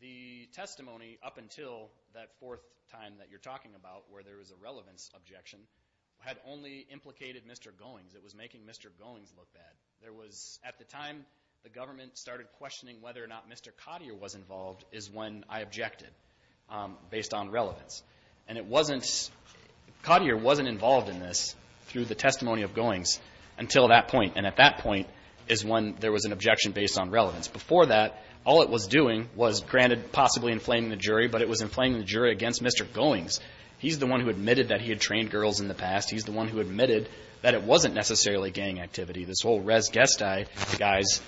The testimony up until that fourth time that you're talking about where there was a relevance objection had only implicated Mr. Goings. It was making Mr. Goings look bad. There was, at the time, the government started questioning whether or not Mr. Cottier was involved is when I objected based on relevance. And it wasn't, Cottier wasn't involved in this through the testimony of Goings until that point. And at that point is when there was an objection based on relevance. Before that, all it was doing was, granted, possibly inflating the jury, but it was inflating the jury against Mr. Goings. He's the one who admitted that he had trained girls in the past. He's the one who admitted that it wasn't necessarily gang activity. This whole res gestae, the guys,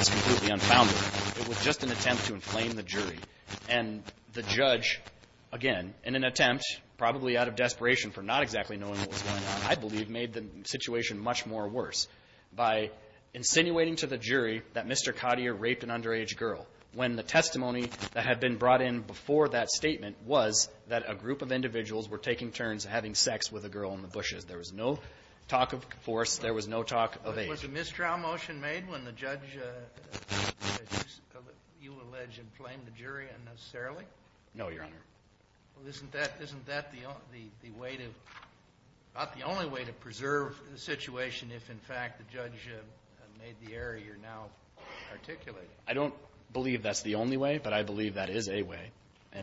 is completely unfounded. It was just an attempt to inflame the jury. And the judge, again, in an attempt, probably out of desperation for not exactly knowing what was going on, I believe, made the situation much more worse. By insinuating to the jury that Mr. Cottier raped an underage girl, when the testimony that had been brought in before that statement was that a group of individuals were taking turns having sex with a girl in the bushes. There was no talk of force. There was no talk of age. Was a mistrial motion made when the judge, you allege, inflamed the jury unnecessarily? No, Your Honor. Well, isn't that the way to, about the only way to preserve the situation if, in fact, the judge made the error you're now articulating? I don't believe that's the only way, but I believe that is a way.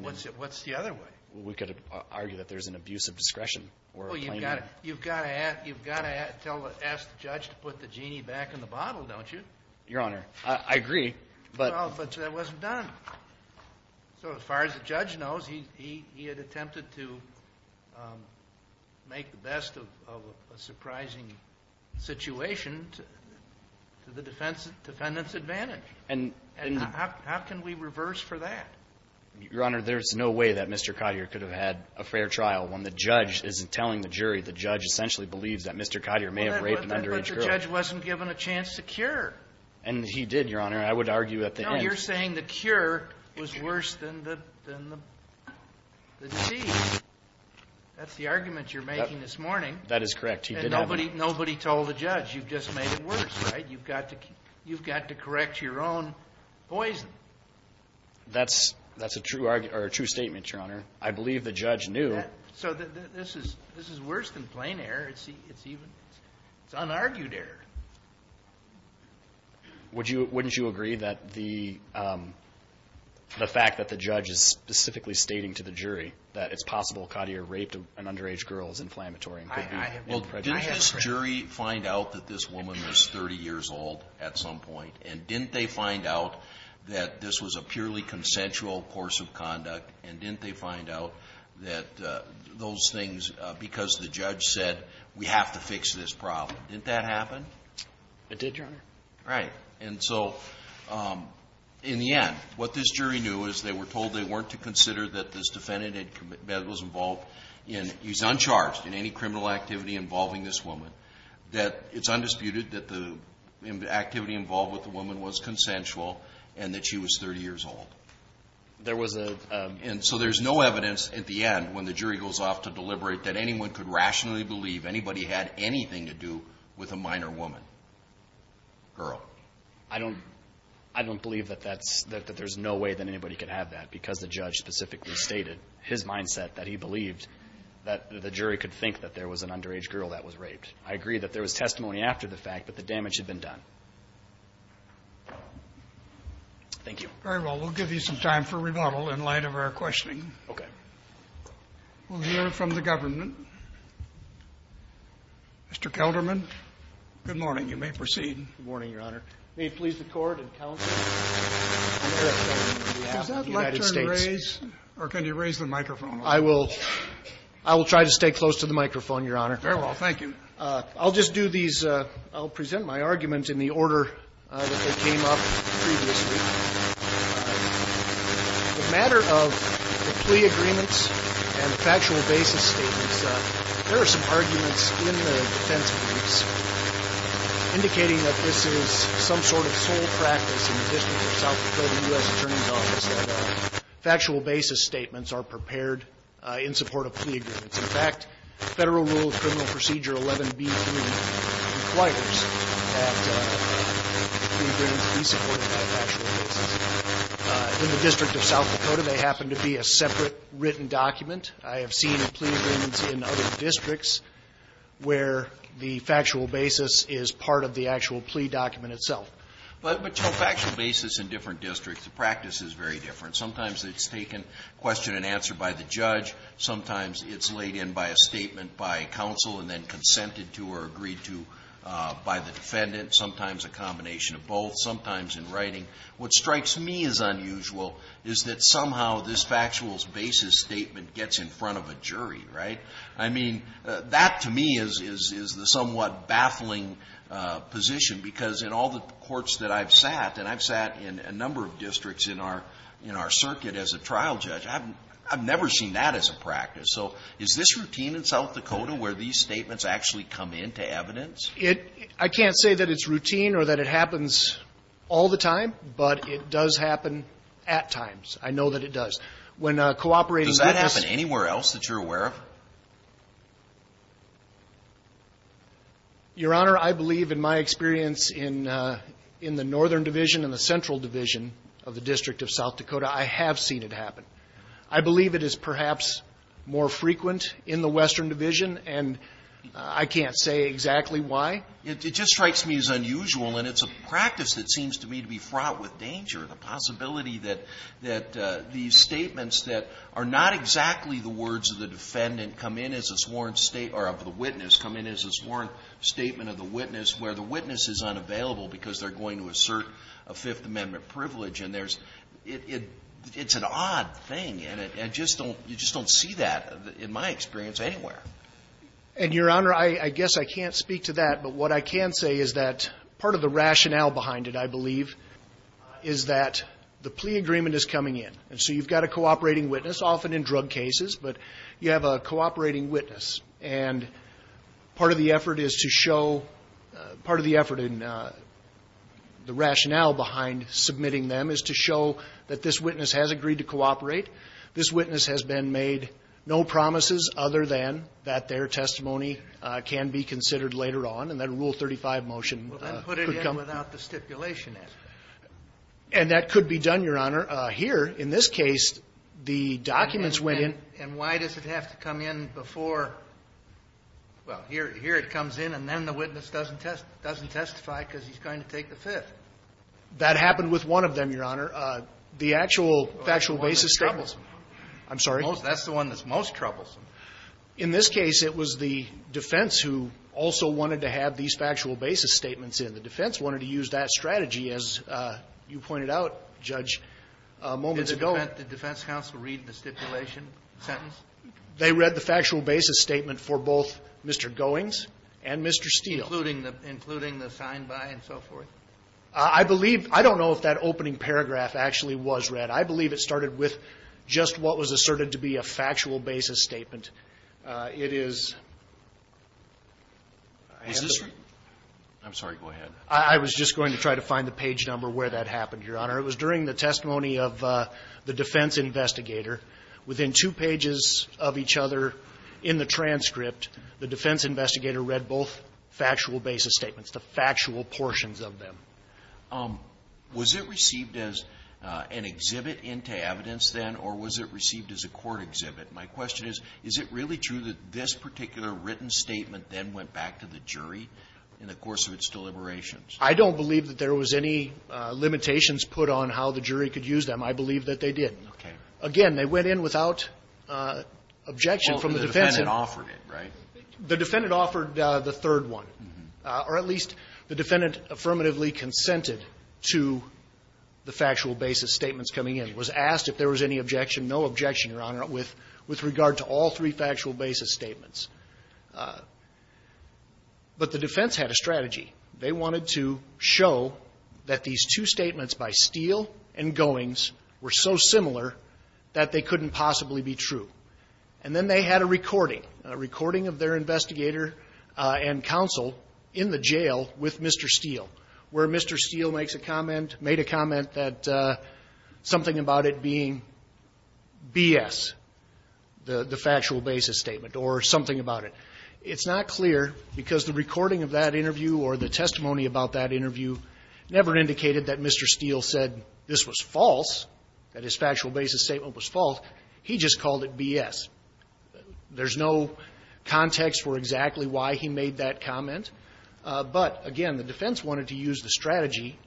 What's the other way? We could argue that there's an abuse of discretion. You've got to ask the judge to put the genie back in the bottle, don't you? Your Honor, I agree, but Well, but that wasn't done. So as far as the judge knows, he had attempted to make the best of a surprising situation to the defendant's advantage. And how can we reverse for that? Your Honor, there's no way that Mr. Cottier could have had a fair trial when the judge isn't telling the jury. The judge essentially believes that Mr. Cottier may have raped an underage girl. But the judge wasn't given a chance to cure. And he did, Your Honor. I would argue at the end No, you're saying the cure was worse than the disease. That's the argument you're making this morning. That is correct. And nobody told the judge. You've just made it worse, right? You've got to correct your own poison. That's a true argument or a true statement, Your Honor. I believe the judge knew. So this is worse than plain error. It's unargued error. Wouldn't you agree that the fact that the judge is specifically stating to the jury that it's possible Cottier raped an underage girl is inflammatory and could be prejudicial? Well, didn't this jury find out that this woman was 30 years old at some point? And didn't they find out that this was a purely consensual course of conduct? And didn't they find out that those things, because the judge said, we have to fix this problem. Didn't that happen? It did, Your Honor. Right. And so in the end, what this jury knew is they were told they weren't to consider that this defendant that was involved in, he's uncharged in any criminal activity involving this woman, that it's undisputed that the activity involved with the woman was consensual and that she was 30 years old. There was a And so there's no evidence at the end, when the jury goes off to deliberate, that anyone could rationally believe anybody had anything to do with a minor woman, girl. I don't believe that that's, that there's no way that anybody could have that because the judge specifically stated his mindset that he believed that the jury could think that there was an underage girl that was raped. I agree that there was testimony after the fact, but the damage had been done. Thank you. Very well. We'll give you some time for rebuttal in light of our questioning. Okay. We'll hear from the government. Mr. Kelderman. Good morning. You may proceed. Good morning, Your Honor. May it please the Court and counsel, I'm Eric Kelderman on behalf of the United States. Does that lectern raise, or can you raise the microphone? I will. I will try to stay close to the microphone, Your Honor. Very well. Thank you. I'll just do these. I'll present my arguments in the order that they came up previously. The matter of the plea agreements and the factual basis statements, there are some arguments in the defense briefs indicating that this is some sort of sole practice in the district of South Dakota U.S. Attorney's Office that factual basis statements are prepared in support of plea agreements. In fact, Federal Rule of Criminal Procedure 11B3 requires that plea agreements be supported by factual basis. In the district of South Dakota, they happen to be a separate written document. I have seen plea agreements in other districts where the factual basis is part of the actual plea document itself. But, Joe, factual basis in different districts, the practice is very different. Sometimes it's taken question and answer by the judge. Sometimes it's laid in by a statement by counsel and then consented to or agreed to by the defendant. Sometimes a combination of both. Sometimes in writing. What strikes me as unusual is that somehow this factual basis statement gets in front of a jury, right? I mean, that to me is the somewhat baffling position because in all the courts that I've sat, and I've sat in a number of districts in our circuit as a trial judge, I've never seen that as a practice. So is this routine in South Dakota where these statements actually come into evidence? It — I can't say that it's routine or that it happens all the time, but it does happen at times. I know that it does. When cooperating with this — Does that happen anywhere else that you're aware of? Your Honor, I believe in my experience in the Northern Division and the Central Division of the District of South Dakota, I have seen it happen. I believe it is perhaps more frequent in the Western Division, and I can't say exactly why. It just strikes me as unusual, and it's a practice that seems to me to be fraught with danger, the possibility that these statements that are not exactly the words of the defendant come in as a sworn state — or of the witness come in as a sworn statement of the witness where the witness is unavailable because they're going to assert a Fifth Amendment privilege, and there's — it's an odd thing, and it — and just don't — you just don't see that in my experience anywhere. And, Your Honor, I guess I can't speak to that, but what I can say is that part of the rationale behind it, I believe, is that the plea agreement is coming in. And so you've got a cooperating witness, often in drug cases, but you have a cooperating witness. And part of the effort is to show — part of the effort in the rationale behind submitting them is to show that this witness has agreed to cooperate. This witness has been made no promises other than that their testimony can be considered later on. And that Rule 35 motion could come — Well, then put it in without the stipulation. And that could be done, Your Honor. Here, in this case, the documents went in — And why does it have to come in before — well, here it comes in, and then the witness doesn't test — doesn't testify because he's going to take the Fifth. That happened with one of them, Your Honor. The actual factual basis — The one that's troublesome. I'm sorry? That's the one that's most troublesome. In this case, it was the defense who also wanted to have these factual basis statements in. The defense wanted to use that strategy, as you pointed out, Judge, moments ago. Did the defense counsel read the stipulation sentence? They read the factual basis statement for both Mr. Goings and Mr. Steele. Including the signed by and so forth? I believe — I don't know if that opening paragraph actually was read. I believe it started with just what was asserted to be a factual basis statement. It is — I'm sorry. Go ahead. I was just going to try to find the page number where that happened, Your Honor. It was during the testimony of the defense investigator. Within two pages of each other in the transcript, the defense investigator read both factual basis statements, the factual portions of them. Was it received as an exhibit into evidence then, or was it received as a court exhibit? My question is, is it really true that this particular written statement then went back to the jury in the course of its deliberations? I don't believe that there was any limitations put on how the jury could use them. I believe that they did. Again, they went in without objection from the defense. Well, the defendant offered it, right? The defendant offered the third one, or at least the defendant affirmatively consented to the factual basis statements coming in, was asked if there was any objection, no objection, Your Honor, with regard to all three factual basis statements. But the defense had a strategy. They wanted to show that these two statements by Steele and Goings were so similar that they couldn't possibly be true. And then they had a recording, a recording of their investigator and counsel in the jail with Mr. Steele, where Mr. Steele makes a comment, made a comment that something about it being BS, the factual basis statement, or something about it. It's not clear because the recording of that interview or the testimony about that interview never indicated that Mr. Steele said this was false, that his There's no context for exactly why he made that comment. But, again, the defense wanted to use the strategy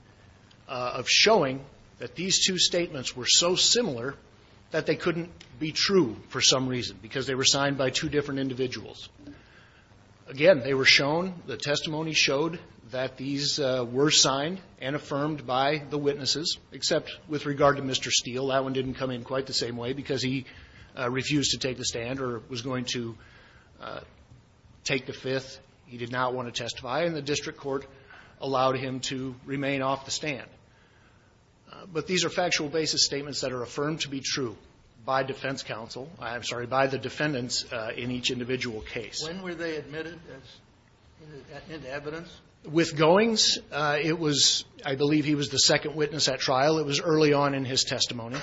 of showing that these two statements were so similar that they couldn't be true for some reason, because they were signed by two different individuals. Again, they were shown, the testimony showed that these were signed and affirmed by the witnesses, except with regard to Mr. Steele. That one didn't come in quite the same way because he refused to take the stand or was going to take the fifth. He did not want to testify, and the district court allowed him to remain off the stand. But these are factual basis statements that are affirmed to be true by defense counsel. I'm sorry, by the defendants in each individual case. When were they admitted as evidence? With Goings, it was, I believe he was the second witness at trial. It was early on in his testimony.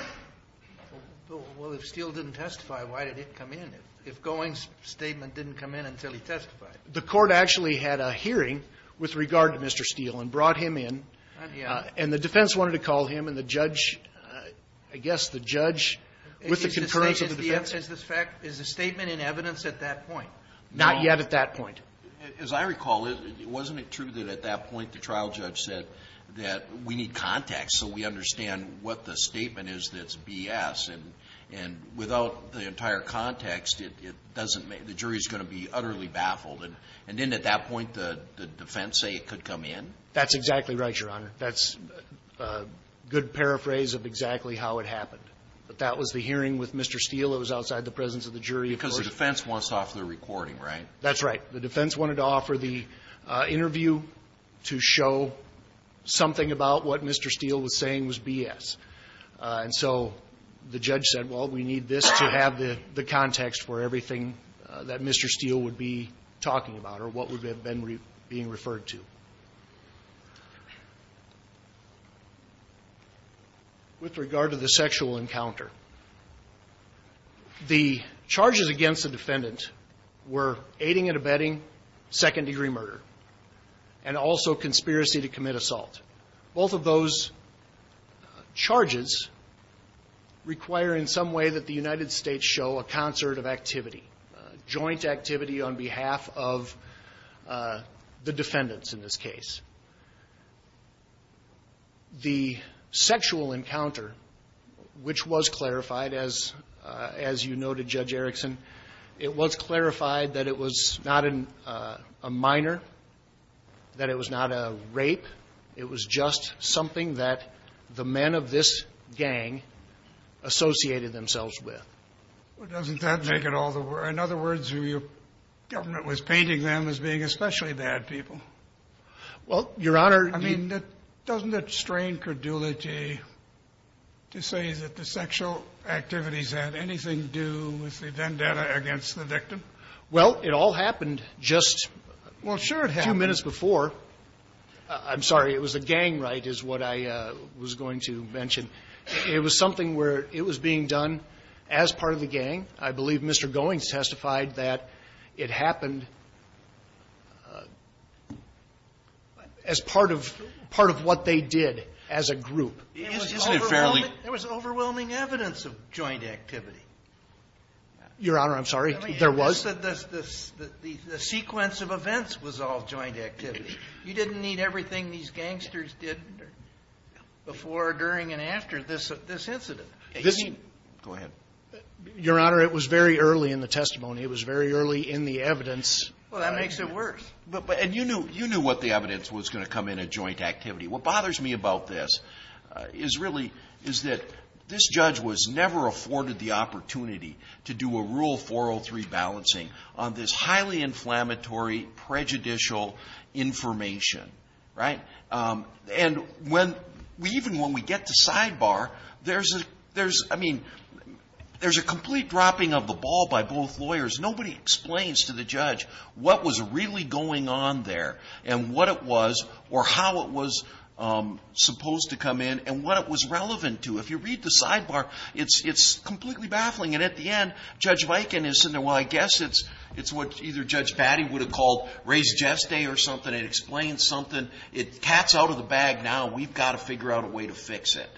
Well, if Steele didn't testify, why did it come in? If Goings' statement didn't come in until he testified? The court actually had a hearing with regard to Mr. Steele and brought him in. And the defense wanted to call him and the judge, I guess the judge, with the concurrence of the defense. Is the statement in evidence at that point? Not yet at that point. As I recall, wasn't it true that at that point the trial judge said that we need context so we understand what the statement is that's BS? And without the entire context, it doesn't make the jury is going to be utterly baffled. And didn't at that point the defense say it could come in? That's exactly right, Your Honor. That's a good paraphrase of exactly how it happened. That was the hearing with Mr. Steele. It was outside the presence of the jury. Because the defense wants to offer the recording, right? That's right. The defense wanted to offer the interview to show something about what Mr. Steele was saying was BS. And so the judge said, well, we need this to have the context for everything that Mr. Steele would be talking about or what would have been being referred to. With regard to the sexual encounter, the charges against the defendant were aiding and abetting second-degree murder and also conspiracy to commit assault. Both of those charges require in some way that the United States show a concert of activity, joint activity on behalf of the defendants in this case. The sexual encounter, which was clarified, as you noted, Judge Erickson, it was clarified that it was not a minor, that it was not a rape. It was just something that the men of this gang associated themselves with. Well, doesn't that make it all the more – in other words, your government was painting them as being especially bad people. Well, Your Honor, you – I mean, doesn't it strain credulity to say that the sexual activities had anything to do with the vendetta against the victim? Well, it all happened just a few minutes before. I'm sorry. It was a gang right, is what I was going to mention. It was something where it was being done as part of the gang. I believe Mr. Goings testified that it happened as part of what they did as a group. Isn't it fairly – There was overwhelming evidence of joint activity. Your Honor, I'm sorry. There was. The sequence of events was all joint activity. You didn't need everything these gangsters did before, during, and after this incident. Go ahead. Your Honor, it was very early in the testimony. It was very early in the evidence. Well, that makes it worse. And you knew what the evidence was going to come in at joint activity. What bothers me about this is really – is that this judge was never afforded the opportunity to do a Rule 403 balancing on this highly inflammatory prejudicial information, right? And when – even when we get to sidebar, there's a – I mean, there's a complete dropping of the ball by both lawyers. Nobody explains to the judge what was really going on there and what it was or how it was supposed to come in and what it was relevant to. If you read the sidebar, it's completely baffling. And at the end, Judge Viken is sitting there, well, I guess it's what either Judge Batty would have called res geste or something. It explains something. It's cats out of the bag now. We've got to figure out a way to fix it,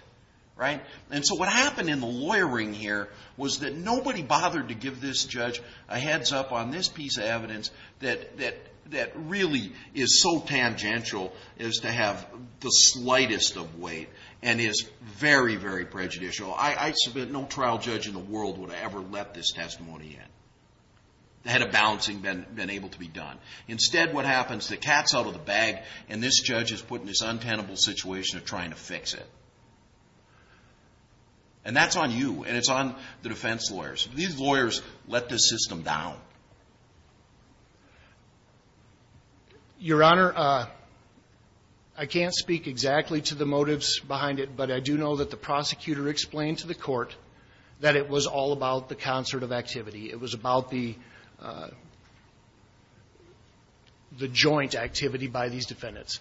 right? And so what happened in the lawyering here was that nobody bothered to give this judge a heads up on this piece of evidence that really is so tangential as to have the slightest of weight and is very, very prejudicial. I submit no trial judge in the world would ever let this testimony in. They had a balancing been able to be done. Instead, what happens, the cat's out of the bag, and this judge is put in this untenable situation of trying to fix it. And that's on you, and it's on the defense lawyers. These lawyers let this system down. Your Honor, I can't speak exactly to the motives behind it, but I do know that the prosecutor explained to the Court that it was all about the concert of activity. It was about the joint activity by these defendants.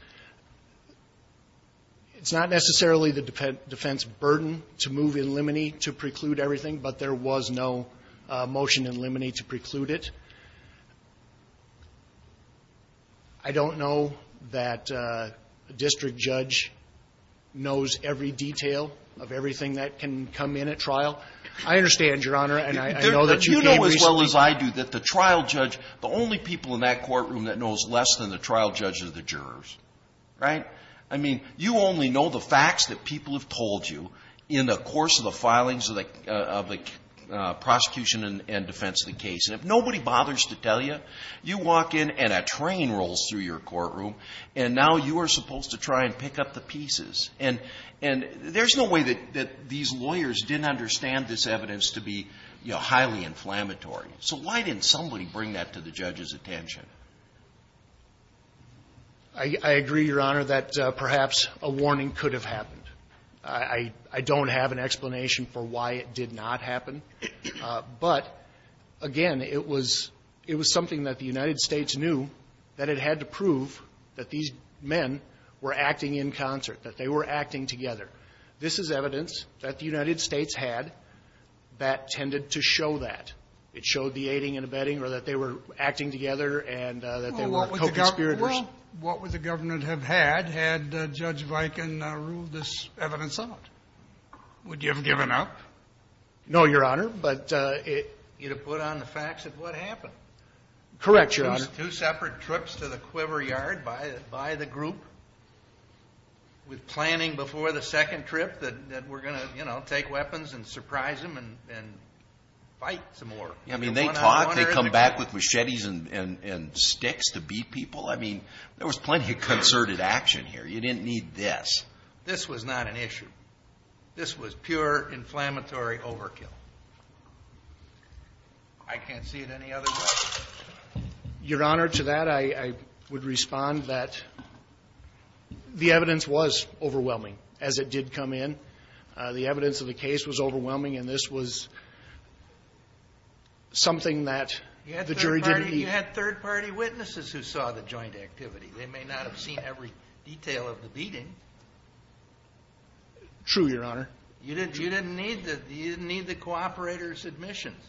It's not necessarily the defense burden to move in limine to preclude everything, but there was no motion in limine to preclude it. I don't know that a district judge knows every detail of everything that can come in at trial. I understand, Your Honor, and I know that you gave reasons. You know as well as I do that the trial judge, the only people in that courtroom that knows less than the trial judge are the jurors, right? I mean, you only know the facts that people have told you in the course of the filings of the prosecution and defense of the case. And if nobody bothers to tell you, you walk in and a train rolls through your courtroom, and now you are supposed to try and pick up the pieces. And there's no way that these lawyers didn't understand this evidence to be, you know, highly inflammatory. So why didn't somebody bring that to the judge's attention? I agree, Your Honor, that perhaps a warning could have happened. I don't have an explanation for why it did not happen. But, again, it was something that the United States knew that it had to prove that these men were acting in concert, that they were acting together. This is evidence that the United States had that tended to show that. It showed the aiding and abetting or that they were acting together and that they were co-conspirators. Well, what would the government have had had Judge Viken ruled this evidence out? Would you have given up? No, Your Honor, but it would have put on the facts of what happened. Correct, Your Honor. It was two separate trips to the quiver yard by the group with planning before the second trip that we're going to, you know, take weapons and surprise them and fight some more. I mean, they talk. They come back with machetes and sticks to beat people. I mean, there was plenty of concerted action here. You didn't need this. This was not an issue. This was pure inflammatory overkill. I can't see it any other way. Your Honor, to that I would respond that the evidence was overwhelming as it did come in. The evidence of the case was overwhelming, and this was something that the jury didn't I mean, you had third-party witnesses who saw the joint activity. They may not have seen every detail of the beating. True, Your Honor. You didn't need the cooperator's admissions.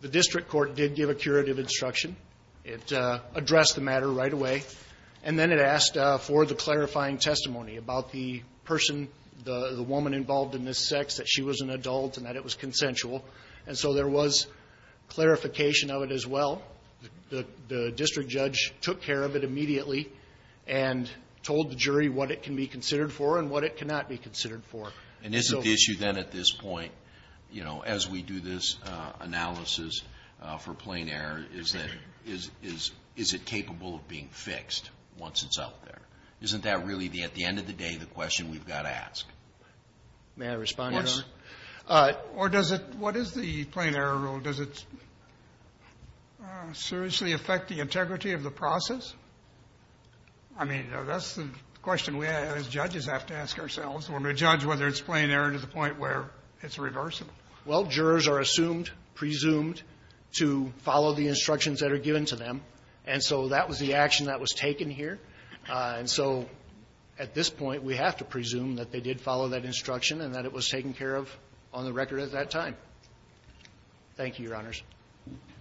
The district court did give a curative instruction. It addressed the matter right away, and then it asked for the clarifying testimony about the person, the woman involved in this sex, that she was an adult and that it was consensual. And so there was clarification of it as well. The district judge took care of it immediately and told the jury what it can be considered for and what it cannot be considered for. And isn't the issue then at this point, you know, as we do this analysis for plain error, is that is it capable of being fixed once it's out there? Isn't that really, at the end of the day, the question we've got to ask? May I respond, Your Honor? Of course. Or does it – what is the plain error rule? Does it seriously affect the integrity of the process? I mean, that's the question we as judges have to ask ourselves when we judge whether it's plain error to the point where it's reversible. Well, jurors are assumed, presumed to follow the instructions that are given to them. And so that was the action that was taken here. And so at this point, we have to presume that they did follow that instruction and that it was taken care of on the record at that time. Thank you, Your Honors.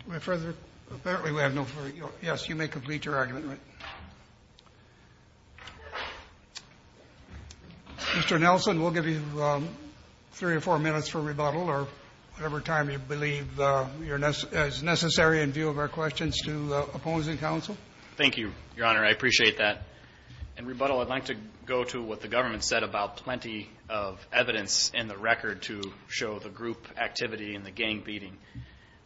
May I further – apparently we have no further – yes, you may complete your argument. Mr. Nelson, we'll give you three or four minutes for rebuttal or whatever time you believe is necessary in view of our questions to opposing counsel. Thank you, Your Honor. I appreciate that. In rebuttal, I'd like to go to what the government said about plenty of evidence in the record to show the group activity and the gang beating.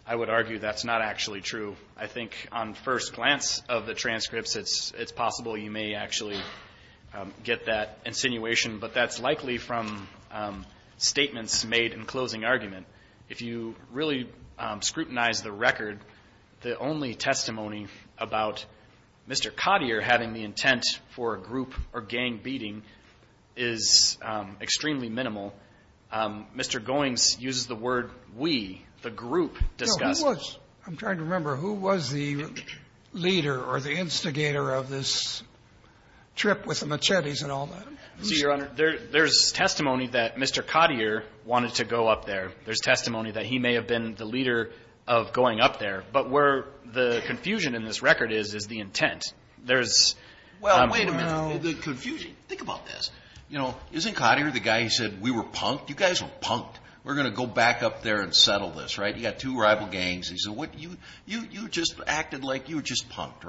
I would argue that's not actually true. I think on first glance of the transcripts, it's possible you may actually get that insinuation, but that's likely from statements made in closing argument. If you really scrutinize the record, the only testimony about Mr. Cotier having the intent for a group or gang beating is extremely minimal. Mr. Goings uses the word we, the group, discussed. No, who was? I'm trying to remember. Who was the leader or the instigator of this trip with the machetes and all that? See, Your Honor, there's testimony that Mr. Cotier wanted to go up there. There's testimony that he may have been the leader of going up there. But where the confusion in this record is, is the intent. Well, wait a minute. The confusion. Think about this. Isn't Cotier the guy who said, we were punked? You guys were punked. We're going to go back up there and settle this. You've got two rival gangs. You just acted like you were just punked.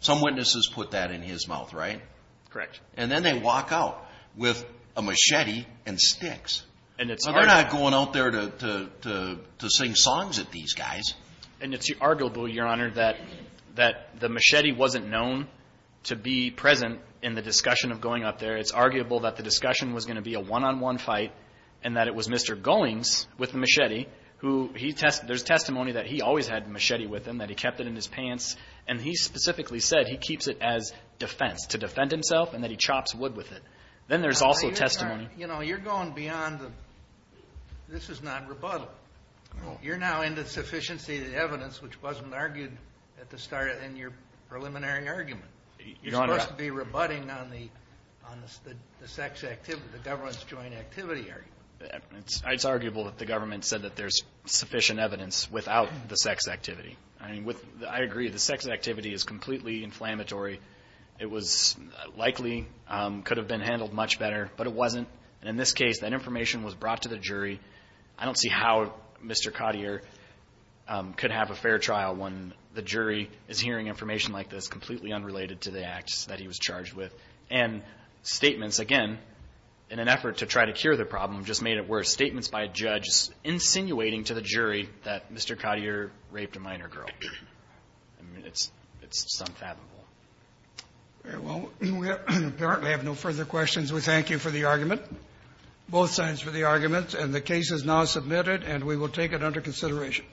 Some witnesses put that in his mouth, right? Correct. And then they walk out with a machete and sticks. They're not going out there to sing songs at these guys. And it's arguable, Your Honor, that the machete wasn't known to be present in the discussion of going up there. It's arguable that the discussion was going to be a one-on-one fight and that it was Mr. Goings with the machete who he tested. There's testimony that he always had the machete with him, that he kept it in his pants. And he specifically said he keeps it as defense, to defend himself, and that he chops wood with it. Then there's also testimony. You know, you're going beyond the this is not rebuttal. You're now in the sufficiency of the evidence, which wasn't argued at the start in your preliminary argument. You're supposed to be rebutting on the sex activity, the government's joint activity argument. It's arguable that the government said that there's sufficient evidence without the sex activity. I agree. The sex activity is completely inflammatory. It was likely could have been handled much better, but it wasn't. And in this case, that information was brought to the jury. I don't see how Mr. Cottier could have a fair trial when the jury is hearing information like this, completely unrelated to the acts that he was charged with. And statements, again, in an effort to try to cure the problem, just made it worse. Statements by a judge insinuating to the jury that Mr. Cottier raped a minor girl. I mean, it's unfathomable. Well, we apparently have no further questions. We thank you for the argument, both sides for the argument. And the case is now submitted, and we will take it under consideration.